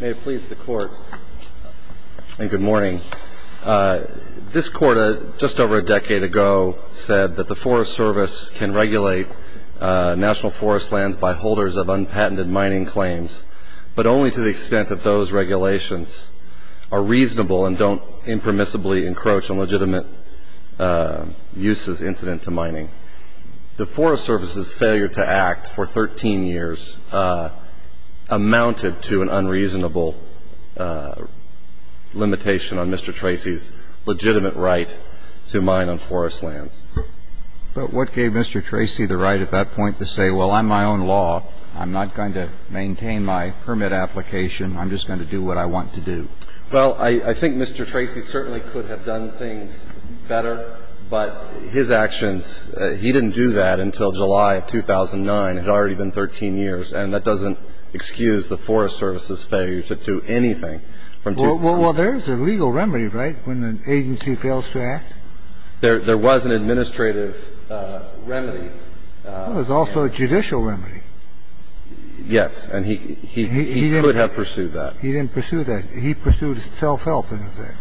May it please the Court, and good morning. This Court, just over a decade ago, said that the Forest Service can regulate national forest lands by holders of unpatented mining claims, but only to the extent that those regulations are reasonable and don't impermissibly encroach on legitimate uses incident to mining. The Forest Service's failure to act for 13 years amounted to an unreasonable limitation on Mr. Tracy's legitimate right to mine on forest lands. But what gave Mr. Tracy the right at that point to say, well, I'm my own law. I'm not going to maintain my permit application. I'm just going to do what I want to do. Well, I think Mr. Tracy certainly could have done things better, but his actions he didn't do that until July of 2009, had already been 13 years. And that doesn't excuse the Forest Service's failure to do anything from 2009. Well, there's a legal remedy, right, when an agency fails to act? There was an administrative remedy. There's also a judicial remedy. Yes. And he could have pursued that. He didn't pursue that. He pursued self-help in effect.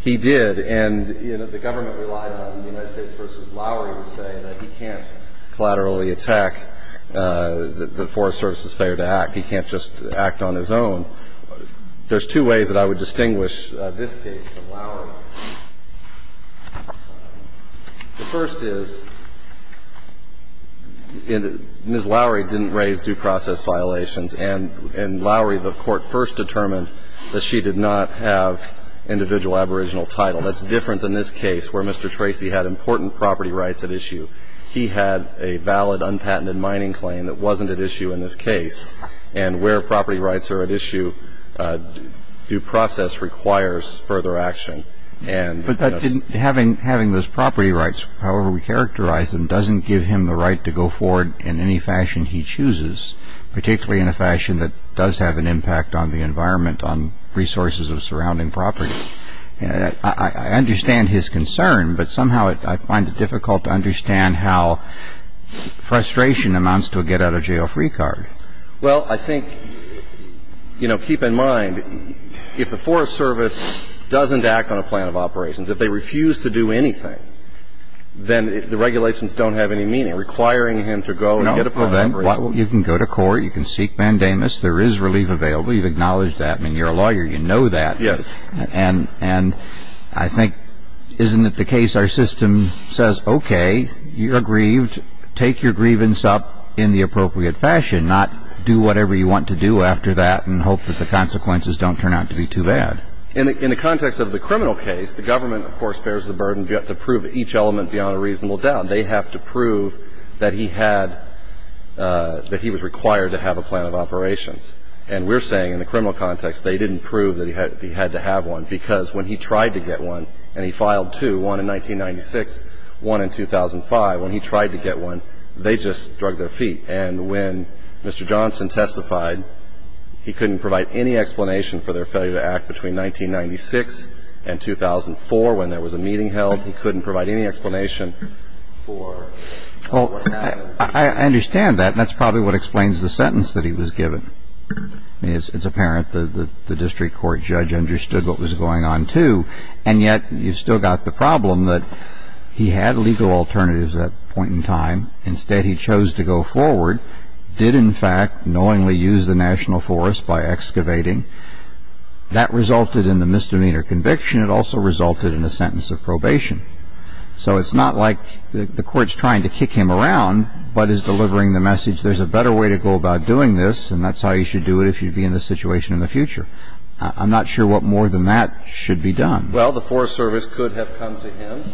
He did. And, you know, the government relied on the United States v. Lowery to say that he can't collaterally attack the Forest Service's failure to act. He can't just act on his own. There's two ways that I would distinguish this case from Lowery. The first is, Ms. Lowery didn't raise due process violations, and Lowery, the Court first determined that she did not have individual aboriginal title. That's different than this case, where Mr. Tracy had important property rights at issue. He had a valid, unpatented mining claim that wasn't at issue in this case. And where property rights are at issue, due process requires further action. But having those property rights however we characterize them doesn't give him the right to go forward in any fashion he chooses, particularly in a fashion that does have an impact on the environment, on resources of surrounding property. I understand his concern, but somehow I find it difficult to understand how frustration amounts to a get-out-of-jail-free card. Well, I think, you know, keep in mind, if the Forest Service doesn't act on a plan of operations, if they refuse to do anything, then the regulations don't have any meaning. Requiring him to go and get a plan of operations. Well, then, you can go to court. You can seek mandamus. There is relief available. You've acknowledged that. I mean, you're a lawyer. You know that. Yes. And I think, isn't it the case our system says, okay, you're grieved. Take your grievance up in the appropriate fashion, not do whatever you want to do after that and hope that the consequences don't turn out to be too bad. In the context of the criminal case, the government, of course, bears the burden to prove each element beyond a reasonable doubt. They have to prove that he had – that he was required to have a plan of operations. And we're saying in the criminal context they didn't prove that he had to have one, because when he tried to get one and he filed two, one in 1996, one in 2005, when he tried to get one, they just drug their feet. And when Mr. Johnson testified, he couldn't provide any explanation for their failure to act between 1996 and 2004 when there was a meeting held. He couldn't provide any explanation for what happened. Well, I understand that, and that's probably what explains the sentence that he was given. I mean, it's apparent that the district court judge understood what was going on too, and yet you've still got the problem that he had legal alternatives at that point in time. Instead, he chose to go forward, did, in fact, knowingly use the national forest by excavating. That resulted in the misdemeanor conviction. It also resulted in a sentence of probation. So it's not like the Court's trying to kick him around but is delivering the message, there's a better way to go about doing this, and that's how you should do it if you'd be in this situation in the future. I'm not sure what more than that should be done. Well, the Forest Service could have come to him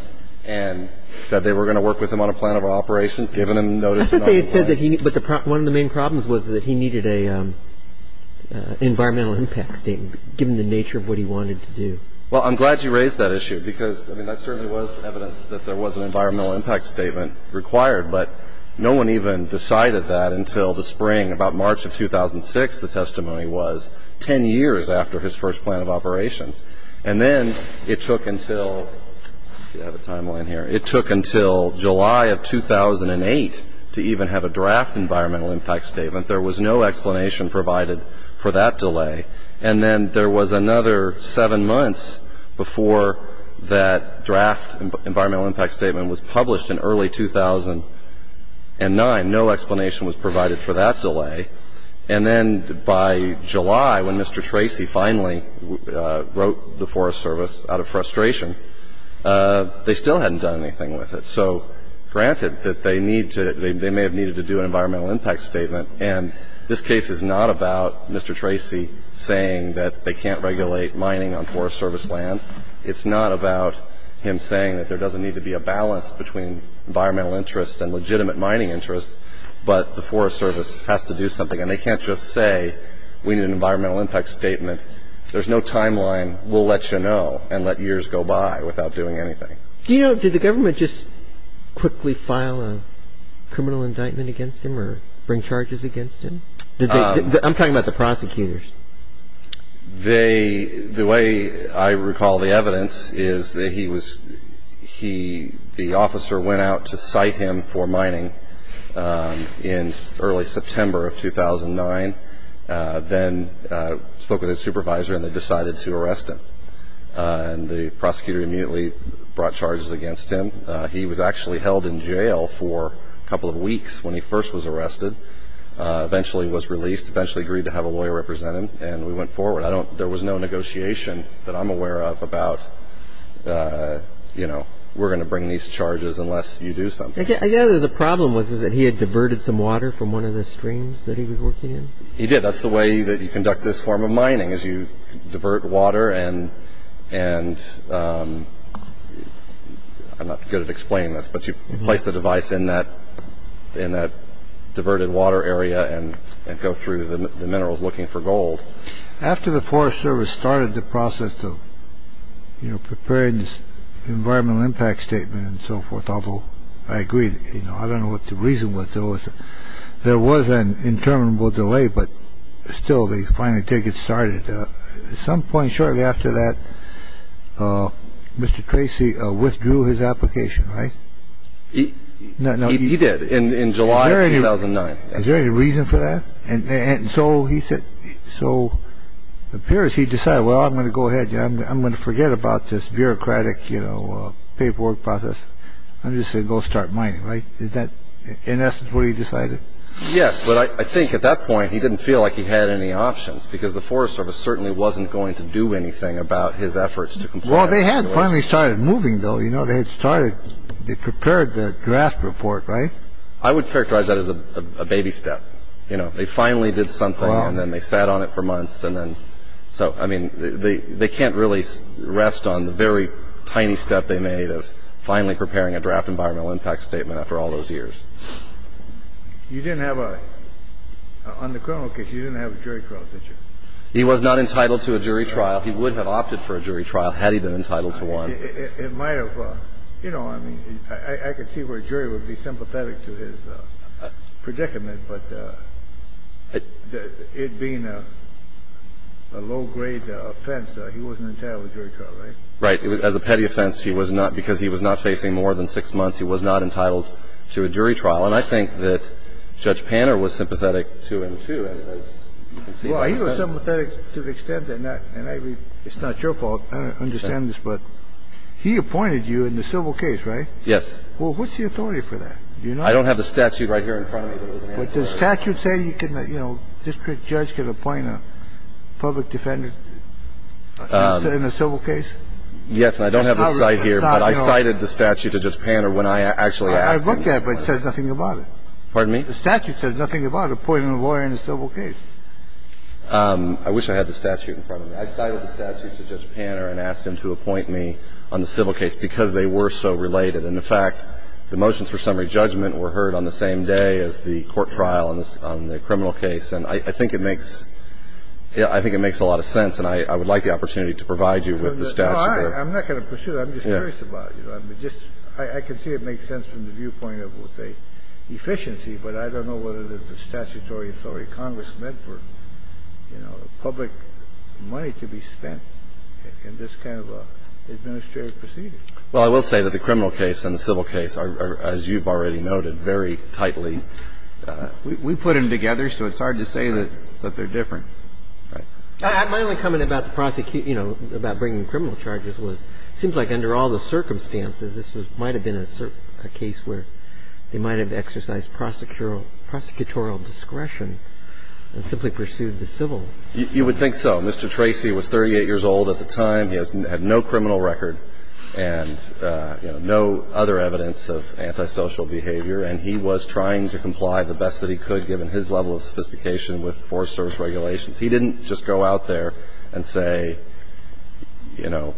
and said they were going to work with him on a plan of operations, given him notice of noncompliance. But one of the main problems was that he needed an environmental impact statement, given the nature of what he wanted to do. Well, I'm glad you raised that issue because, I mean, there certainly was evidence that there was an environmental impact statement required, but no one even decided that until the spring, about March of 2006, the testimony was, 10 years after his first plan of operations. And then it took until, let's see, I have a timeline here, it took until July of 2008 to even have a draft environmental impact statement. There was no explanation provided for that delay. And then there was another seven months before that draft environmental impact statement was published in early 2009. No explanation was provided for that delay. And then by July, when Mr. Tracy finally wrote the Forest Service out of frustration, they still hadn't done anything with it. So granted that they need to, they may have needed to do an environmental impact statement, and this case is not about Mr. Tracy saying that they can't regulate mining on Forest Service land. It's not about him saying that there doesn't need to be a balance between environmental interests and legitimate mining interests, but the Forest Service has to do something. And they can't just say we need an environmental impact statement. There's no timeline. We'll let you know and let years go by without doing anything. Do you know, did the government just quickly file a criminal indictment against him or bring charges against him? I'm talking about the prosecutors. They, the way I recall the evidence is that he was, he, the officer went out to cite him for mining in early September of 2009, then spoke with his supervisor and they decided to arrest him. And the prosecutor immediately brought charges against him. He was actually held in jail for a couple of weeks when he first was arrested, eventually was released, eventually agreed to have a lawyer represent him, and we went forward. I don't, there was no negotiation that I'm aware of about, you know, we're going to bring these charges unless you do something. I gather the problem was that he had diverted some water from one of the streams that he was working in? He did. That's the way that you conduct this form of mining is you divert water and, and I'm not good at explaining this, but you place the device in that, in that diverted water area and go through the minerals looking for gold. After the Forest Service started the process of, you know, preparing this environmental impact statement and so forth, although I agree, you know, I don't know what the reason was. There was an interminable delay, but still they finally take it started. At some point shortly after that, Mr. Tracy withdrew his application, right? He did in July 2009. Is there any reason for that? And so he said, so it appears he decided, well, I'm going to go ahead. I'm going to forget about this bureaucratic, you know, paperwork process. I'm just going to go start mining, right? Is that in essence what he decided? Yes, but I think at that point he didn't feel like he had any options because the Forest Service certainly wasn't going to do anything about his efforts to comply. Well, they had finally started moving, though. You know, they had started, they prepared the draft report, right? I would characterize that as a baby step. You know, they finally did something and then they sat on it for months and then so, I mean, they can't really rest on the very tiny step they made of finally preparing a draft environmental impact statement after all those years. You didn't have a, on the criminal case, you didn't have a jury trial, did you? He was not entitled to a jury trial. He would have opted for a jury trial had he been entitled to one. It might have, you know, I mean, I could see where a jury would be sympathetic to his predicament, but it being a low-grade offense, he wasn't entitled to a jury trial, right? Right. As a petty offense, he was not, because he was not facing more than six months, he was not entitled to a jury trial. And I think that Judge Panner was sympathetic to him, too. Well, he was sympathetic to the extent that, and I mean, it's not your fault. I don't understand this, but he appointed you in the civil case, right? Yes. Well, what's the authority for that? Do you know? I don't have the statute right here in front of me that doesn't answer that. But does the statute say you can, you know, district judge can appoint a public defendant in a civil case? Yes, and I don't have the site here, but I cited the statute to Judge Panner when I actually asked him. I looked at it, but it says nothing about it. Pardon me? The statute says nothing about appointing a lawyer in a civil case. I wish I had the statute in front of me. I cited the statute to Judge Panner and asked him to appoint me on the civil case because they were so related. And, in fact, the motions for summary judgment were heard on the same day as the court trial on the criminal case. And I think it makes a lot of sense, and I would like the opportunity to provide you with the statute. No, I'm not going to pursue that. I'm just curious about it. I can see it makes sense from the viewpoint of, let's say, efficiency, but I don't know whether the statutory authority of Congress meant for, you know, public money to be spent in this kind of an administrative proceeding. Well, I will say that the criminal case and the civil case are, as you've already noted, very tightly. We put them together, so it's hard to say that they're different. Right. My only comment about the prosecution, you know, about bringing criminal charges was it seems like under all the circumstances, this might have been a case where they might have exercised prosecutorial discretion and simply pursued the civil. You would think so. Mr. Tracy was 38 years old at the time. He had no criminal record and, you know, no other evidence of antisocial behavior, and he was trying to comply the best that he could, given his level of sophistication with Forest Service regulations. He didn't just go out there and say, you know,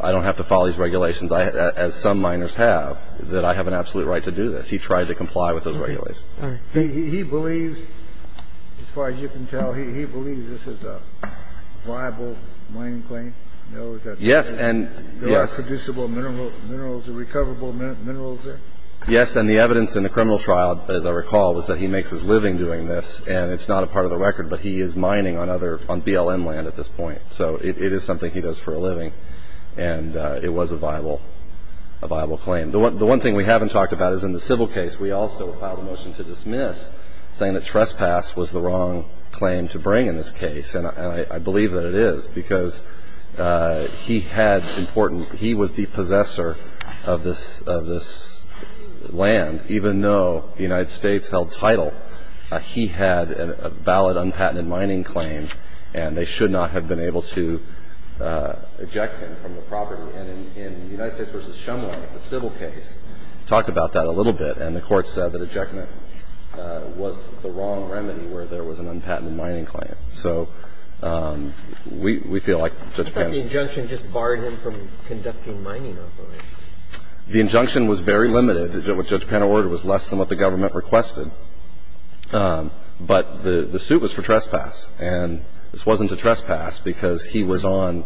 I don't have to follow these regulations as some miners have, that I have an absolute right to do this. He tried to comply with those regulations. He believes, as far as you can tell, he believes this is a viable mining claim. No, that's not true. Yes, and, yes. There are producible minerals, recoverable minerals there? Yes, and the evidence in the criminal trial, as I recall, was that he makes his living doing this, and it's not a part of the record, but he is mining on other, on BLM land at this point. So it is something he does for a living, and it was a viable claim. The one thing we haven't talked about is in the civil case, we also filed a motion to dismiss, saying that trespass was the wrong claim to bring in this case, and I believe that it is because he had important, he was the possessor of this land, even though the United States held title, he had a valid, unpatented mining claim, and they should not have been able to eject him from the property. And in the United States v. Shumway, the civil case, talked about that a little bit, and the court said that ejectment was the wrong remedy where there was an unpatented mining claim. So we feel like Judge Pano. But the injunction just barred him from conducting mining operations. The injunction was very limited. What Judge Pano ordered was less than what the government requested. But the suit was for trespass, and this wasn't a trespass because he was on,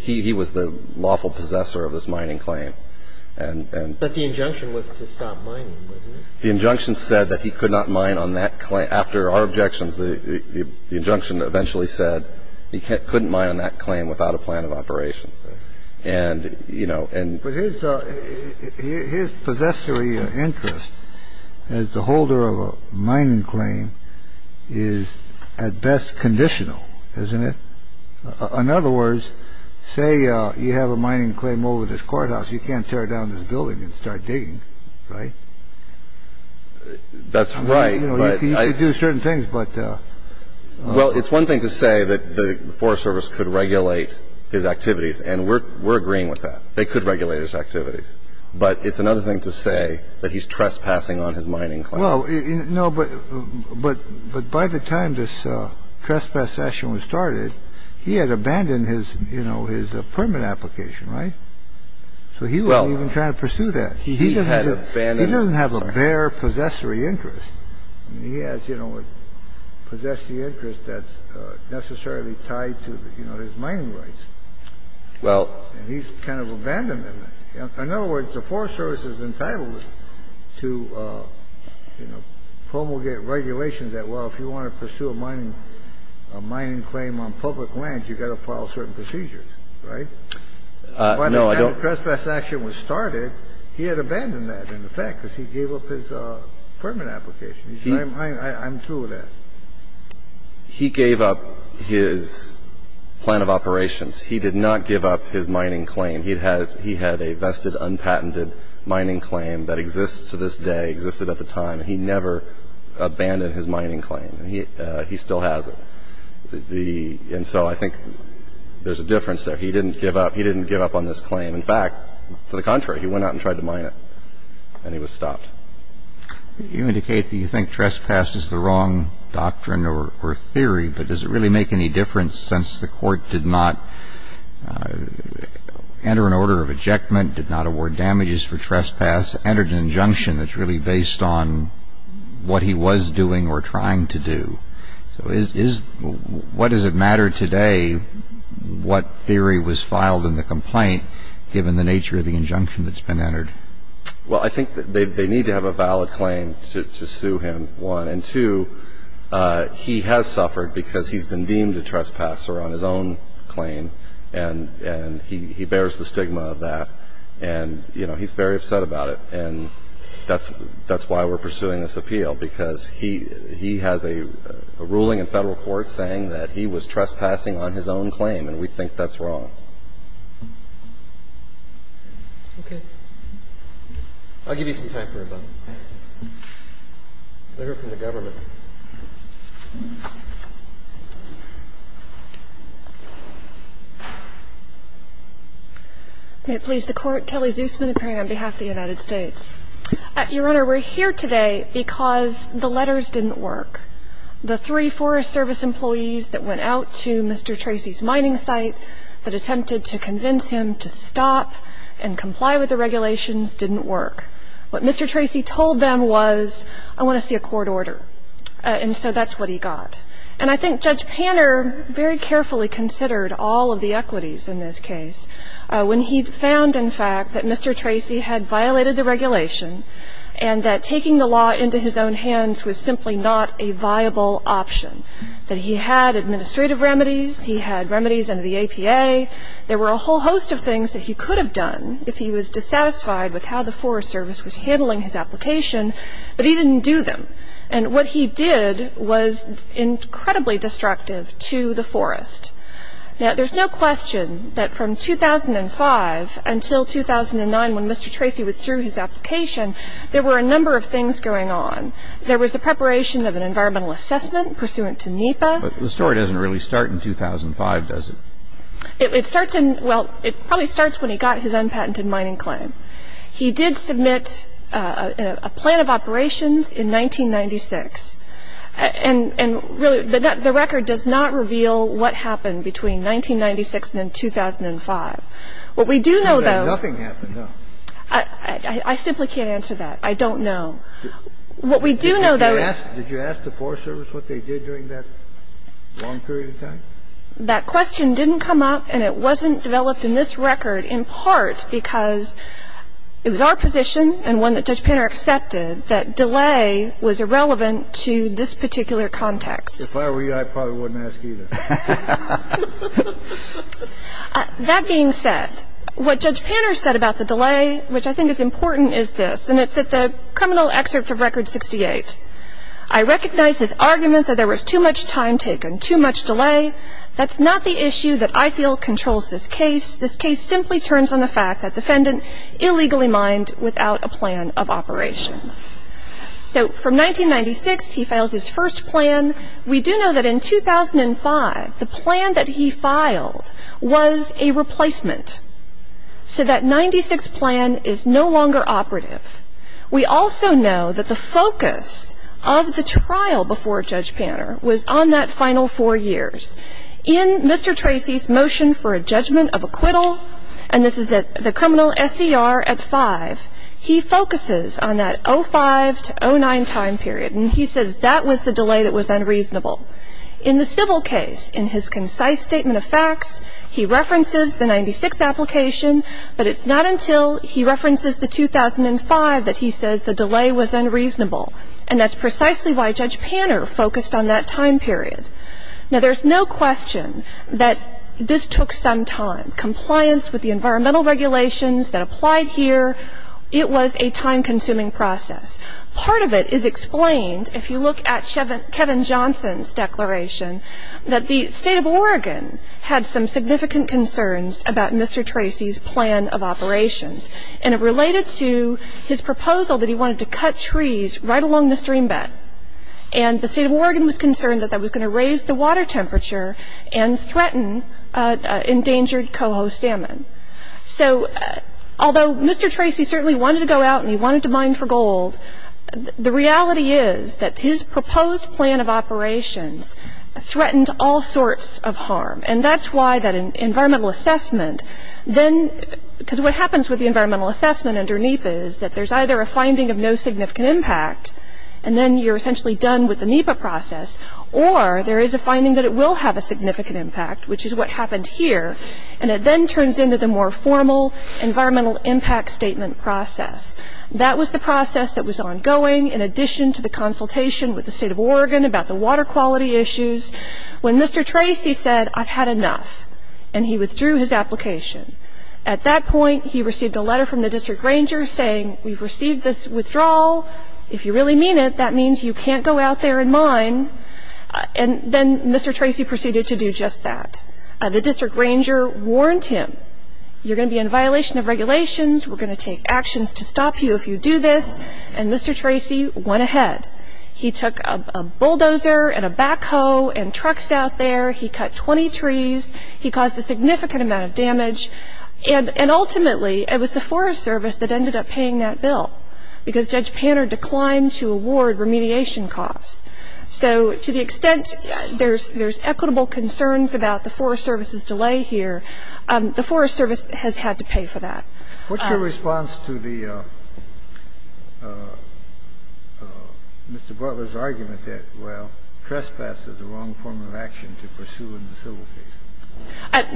he was the lawful possessor of this mining claim. But the injunction was to stop mining, wasn't it? The injunction said that he could not mine on that claim. After our objections, the injunction eventually said he couldn't mine on that claim without a plan of operations. And, you know, and. But his possessory interest as the holder of a mining claim is at best conditional, isn't it? In other words, say you have a mining claim over this courthouse, you can't tear down this building and start digging, right? That's right. You know, you could do certain things, but. Well, it's one thing to say that the Forest Service could regulate his activities, and we're agreeing with that. They could regulate his activities. But it's another thing to say that he's trespassing on his mining claim. Well, no, but by the time this trespass session was started, he had abandoned his, you know, his permit application, right? So he wasn't even trying to pursue that. He doesn't have a bare possessory interest. I mean, he has, you know, a possessory interest that's necessarily tied to, you know, his mining rights. Well. And he's kind of abandoned them. In other words, the Forest Service is entitled to, you know, promulgate regulations that, well, if you want to pursue a mining claim on public land, you've got to follow certain procedures, right? No, I don't. He gave up his permit application. I'm through with that. He gave up his plan of operations. He did not give up his mining claim. He had a vested, unpatented mining claim that exists to this day, existed at the time, and he never abandoned his mining claim. He still has it. And so I think there's a difference there. He didn't give up. He didn't give up on this claim. In fact, to the contrary, he went out and tried to mine it. And he was stopped. You indicate that you think trespass is the wrong doctrine or theory, but does it really make any difference since the court did not enter an order of ejectment, did not award damages for trespass, entered an injunction that's really based on what he was doing or trying to do? So what does it matter today what theory was filed in the complaint, given the nature of the injunction that's been entered? Well, I think they need to have a valid claim to sue him, one. And, two, he has suffered because he's been deemed a trespasser on his own claim, and he bears the stigma of that. And, you know, he's very upset about it. And that's why we're pursuing this appeal, because he has a ruling in federal court saying that he was trespassing on his own claim, and we think that's wrong. Okay. I'll give you some time for rebuttal. Letter from the government. May it please the Court. Kelly Zusman appearing on behalf of the United States. Your Honor, we're here today because the letters didn't work. The three Forest Service employees that went out to Mr. Tracy's mining site, that attempted to convince him to stop and comply with the regulations didn't work. What Mr. Tracy told them was, I want to see a court order. And so that's what he got. And I think Judge Panner very carefully considered all of the equities in this case, when he found, in fact, that Mr. Tracy had violated the regulation, and that taking the law into his own hands was simply not a viable option, that he had administrative remedies, he had remedies under the APA, there were a whole host of things that he could have done if he was dissatisfied with how the Forest Service was handling his application, but he didn't do them. And what he did was incredibly destructive to the forest. Now, there's no question that from 2005 until 2009, when Mr. Tracy withdrew his application, there were a number of things going on. There was the preparation of an environmental assessment pursuant to NEPA. There was the application to the EPA. And he did submit a plan of operations to the EPA. The story doesn't really start in 2005, does it? It starts in — well, it probably starts when he got his unpatented mining claim. He did submit a plan of operations in 1996. And really, the record does not reveal what happened between 1996 and 2005. What we do know, though — Nothing happened, no. I simply can't answer that. I don't know. What we do know, though — Did you ask the Forest Service what they did during that long period of time? That question didn't come up, and it wasn't developed in this record in part because it was our position and one that Judge Panter accepted that delay was irrelevant to this particular context. If I were you, I probably wouldn't ask either. That being said, what Judge Panter said about the delay, which I think is important, is this, and it's at the criminal excerpt of Record 68. I recognize his argument that there was too much time taken, too much delay. That's not the issue that I feel controls this case. This case simply turns on the fact that defendant illegally mined without a plan of operations. So from 1996, he files his first plan. We do know that in 2005, the plan that he filed was a replacement. So that 96 plan is no longer operative. We also know that the focus of the trial before Judge Panter was on that final four years. In Mr. Tracy's motion for a judgment of acquittal, and this is at the criminal SCR at 5, he focuses on that 05 to 09 time period, and he says that was the delay that was unreasonable. In the civil case, in his concise statement of facts, he references the 96 application, but it's not until he references the 2005 that he says the delay was unreasonable, and that's precisely why Judge Panter focused on that time period. Now, there's no question that this took some time. Compliance with the environmental regulations that applied here, it was a time-consuming process. Part of it is explained, if you look at Kevin Johnson's declaration, that the state of Oregon had some significant concerns about Mr. Tracy's plan of operations, and it related to his proposal that he wanted to cut trees right along the stream bed, and the state of Oregon was concerned that that was going to raise the water temperature and threaten endangered coho salmon. So, although Mr. Tracy certainly wanted to go out and he wanted to mine for gold, the reality is that his proposed plan of operations threatened all sorts of harm, and that's why that environmental assessment then, because what happens with the environmental assessment under NEPA is that there's either a finding of no significant impact, and then you're essentially done with the NEPA process, or there is a finding that it will have a significant impact, which is what happened here, and it then turns into the more formal environmental impact statement process. That was the process that was ongoing, in addition to the consultation with the state of Oregon about the water quality issues, when Mr. Tracy said, I've had enough, and he withdrew his application. At that point, he received a letter from the district ranger saying, we've received this withdrawal. If you really mean it, that means you can't go out there and mine, and then Mr. Tracy proceeded to do just that. The district ranger warned him, you're going to be in violation of regulations. We're going to take actions to stop you if you do this, and Mr. Tracy went ahead. He took a bulldozer and a backhoe and trucks out there. He cut 20 trees. He caused a significant amount of damage, and ultimately it was the Forest Service that ended up paying that bill because Judge Panner declined to award remediation costs. So to the extent there's equitable concerns about the Forest Service's delay here, the Forest Service has had to pay for that. What's your response to the Mr. Butler's argument that, well, trespass is the wrong form of action to pursue in the civil case?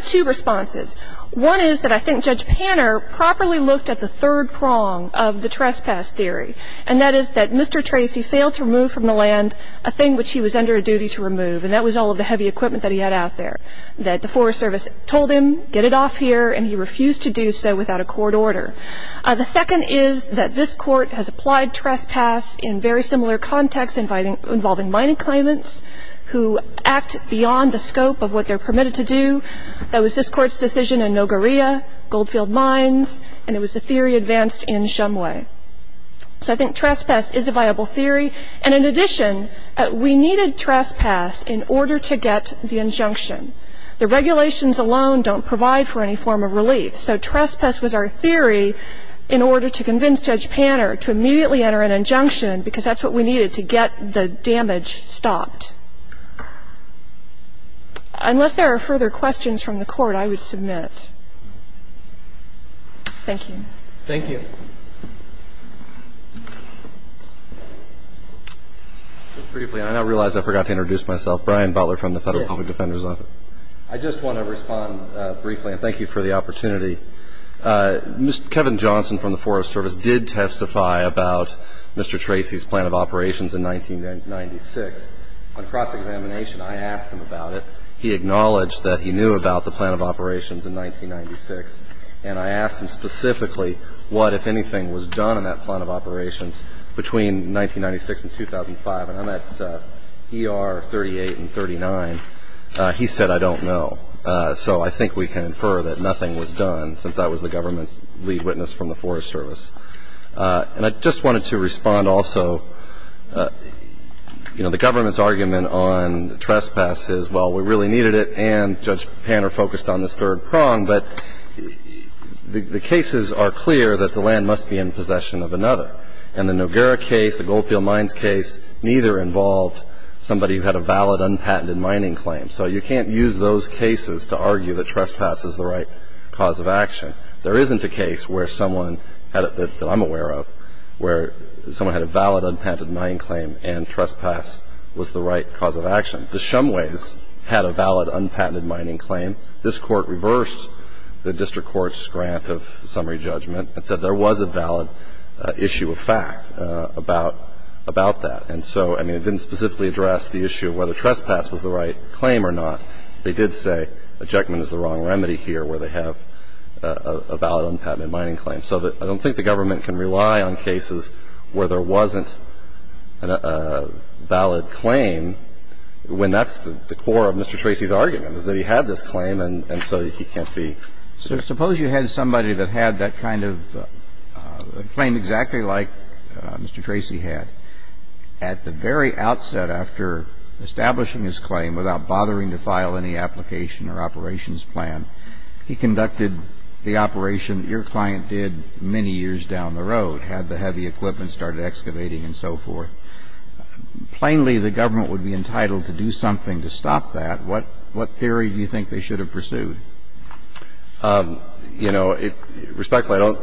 Two responses. One is that I think Judge Panner properly looked at the third prong of the trespass theory, and that is that Mr. Tracy failed to remove from the land a thing which he was under a duty to remove, and that was all of the heavy equipment that he had out there, that the Forest Service told him, get it off here, and he refused to do so without a court order. The second is that this court has applied trespass in very similar contexts involving mining claimants who act beyond the scope of what they're permitted to do. That was this Court's decision in Nogoria, Goldfield Mines, and it was the theory advanced in Shumway. So I think trespass is a viable theory, and in addition, we needed trespass in order to get the injunction. The regulations alone don't provide for any form of relief, so trespass was our theory in order to convince Judge Panner to immediately enter an injunction because that's what we needed to get the damage stopped. Unless there are further questions from the Court, I would submit. Thank you. Thank you. Just briefly, I now realize I forgot to introduce myself. Brian Butler from the Federal Public Defender's Office. Yes. I just want to respond briefly, and thank you for the opportunity. Kevin Johnson from the Forest Service did testify about Mr. Tracy's plan of operations in 1996 on cross-examination. I asked him about it. He acknowledged that he knew about the plan of operations in 1996, and I asked him specifically what, if anything, was done in that plan of operations between 1996 and 2005. And I'm at ER 38 and 39. He said, I don't know. So I think we can infer that nothing was done since I was the government's lead witness from the Forest Service. And I just wanted to respond also, you know, the government's argument on trespass is, well, we really needed it, and Judge Panner focused on this third prong, but the cases are clear that the land must be in possession of another. And the Noguera case, the Goldfield Mines case, neither involved somebody who had a valid, unpatented mining claim. So you can't use those cases to argue that trespass is the right cause of action. There isn't a case that I'm aware of where someone had a valid, unpatented mining claim and trespass was the right cause of action. The Shumways had a valid, unpatented mining claim. This Court reversed the district court's grant of summary judgment and said there was a valid issue of fact about that. And so, I mean, it didn't specifically address the issue of whether trespass was the right claim or not. They did say ejectment is the wrong remedy here where they have a valid, unpatented mining claim. So I don't think the government can rely on cases where there wasn't a valid claim, when that's the core of Mr. Tracy's argument, is that he had this claim and so he can't be ---- So suppose you had somebody that had that kind of claim exactly like Mr. Tracy had. At the very outset, after establishing his claim without bothering to file any application or operations plan, he conducted the operation that your client did many years down the road, had the heavy equipment started excavating and so forth. Plainly, the government would be entitled to do something to stop that. What theory do you think they should have pursued? You know, respectfully, I don't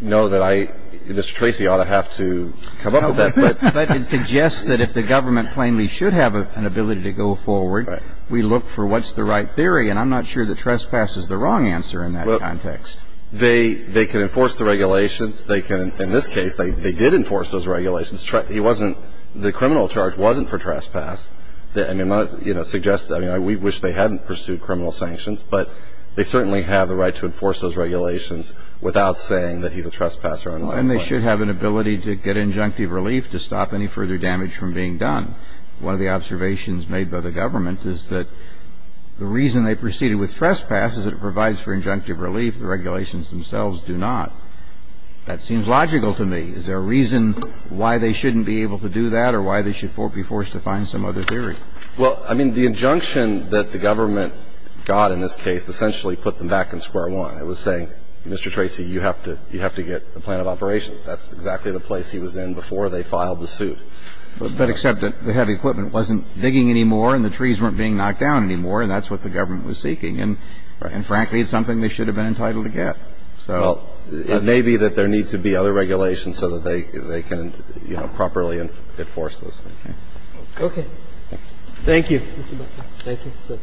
know that I ---- Mr. Tracy ought to have to come up with that, but ---- But it suggests that if the government plainly should have an ability to go forward, we look for what's the right theory. And I'm not sure that trespass is the wrong answer in that context. Well, they can enforce the regulations. They can ---- in this case, they did enforce those regulations. He wasn't ---- the criminal charge wasn't for trespass. I mean, I'm not, you know, suggesting ---- I mean, we wish they hadn't pursued criminal sanctions, but they certainly have the right to enforce those regulations without saying that he's a trespasser on his own. And they should have an ability to get injunctive relief to stop any further damage from being done. One of the observations made by the government is that the reason they proceeded with trespass is it provides for injunctive relief. The regulations themselves do not. That seems logical to me. Is there a reason why they shouldn't be able to do that or why they should be forced to find some other theory? Well, I mean, the injunction that the government got in this case essentially put them back in square one. I was saying, Mr. Tracy, you have to get a plan of operations. That's exactly the place he was in before they filed the suit. But except that the heavy equipment wasn't digging anymore and the trees weren't being knocked down anymore, and that's what the government was seeking. And frankly, it's something they should have been entitled to get. Well, it may be that there needs to be other regulations so that they can, you know, properly enforce those things. Okay. Thank you. Thank you.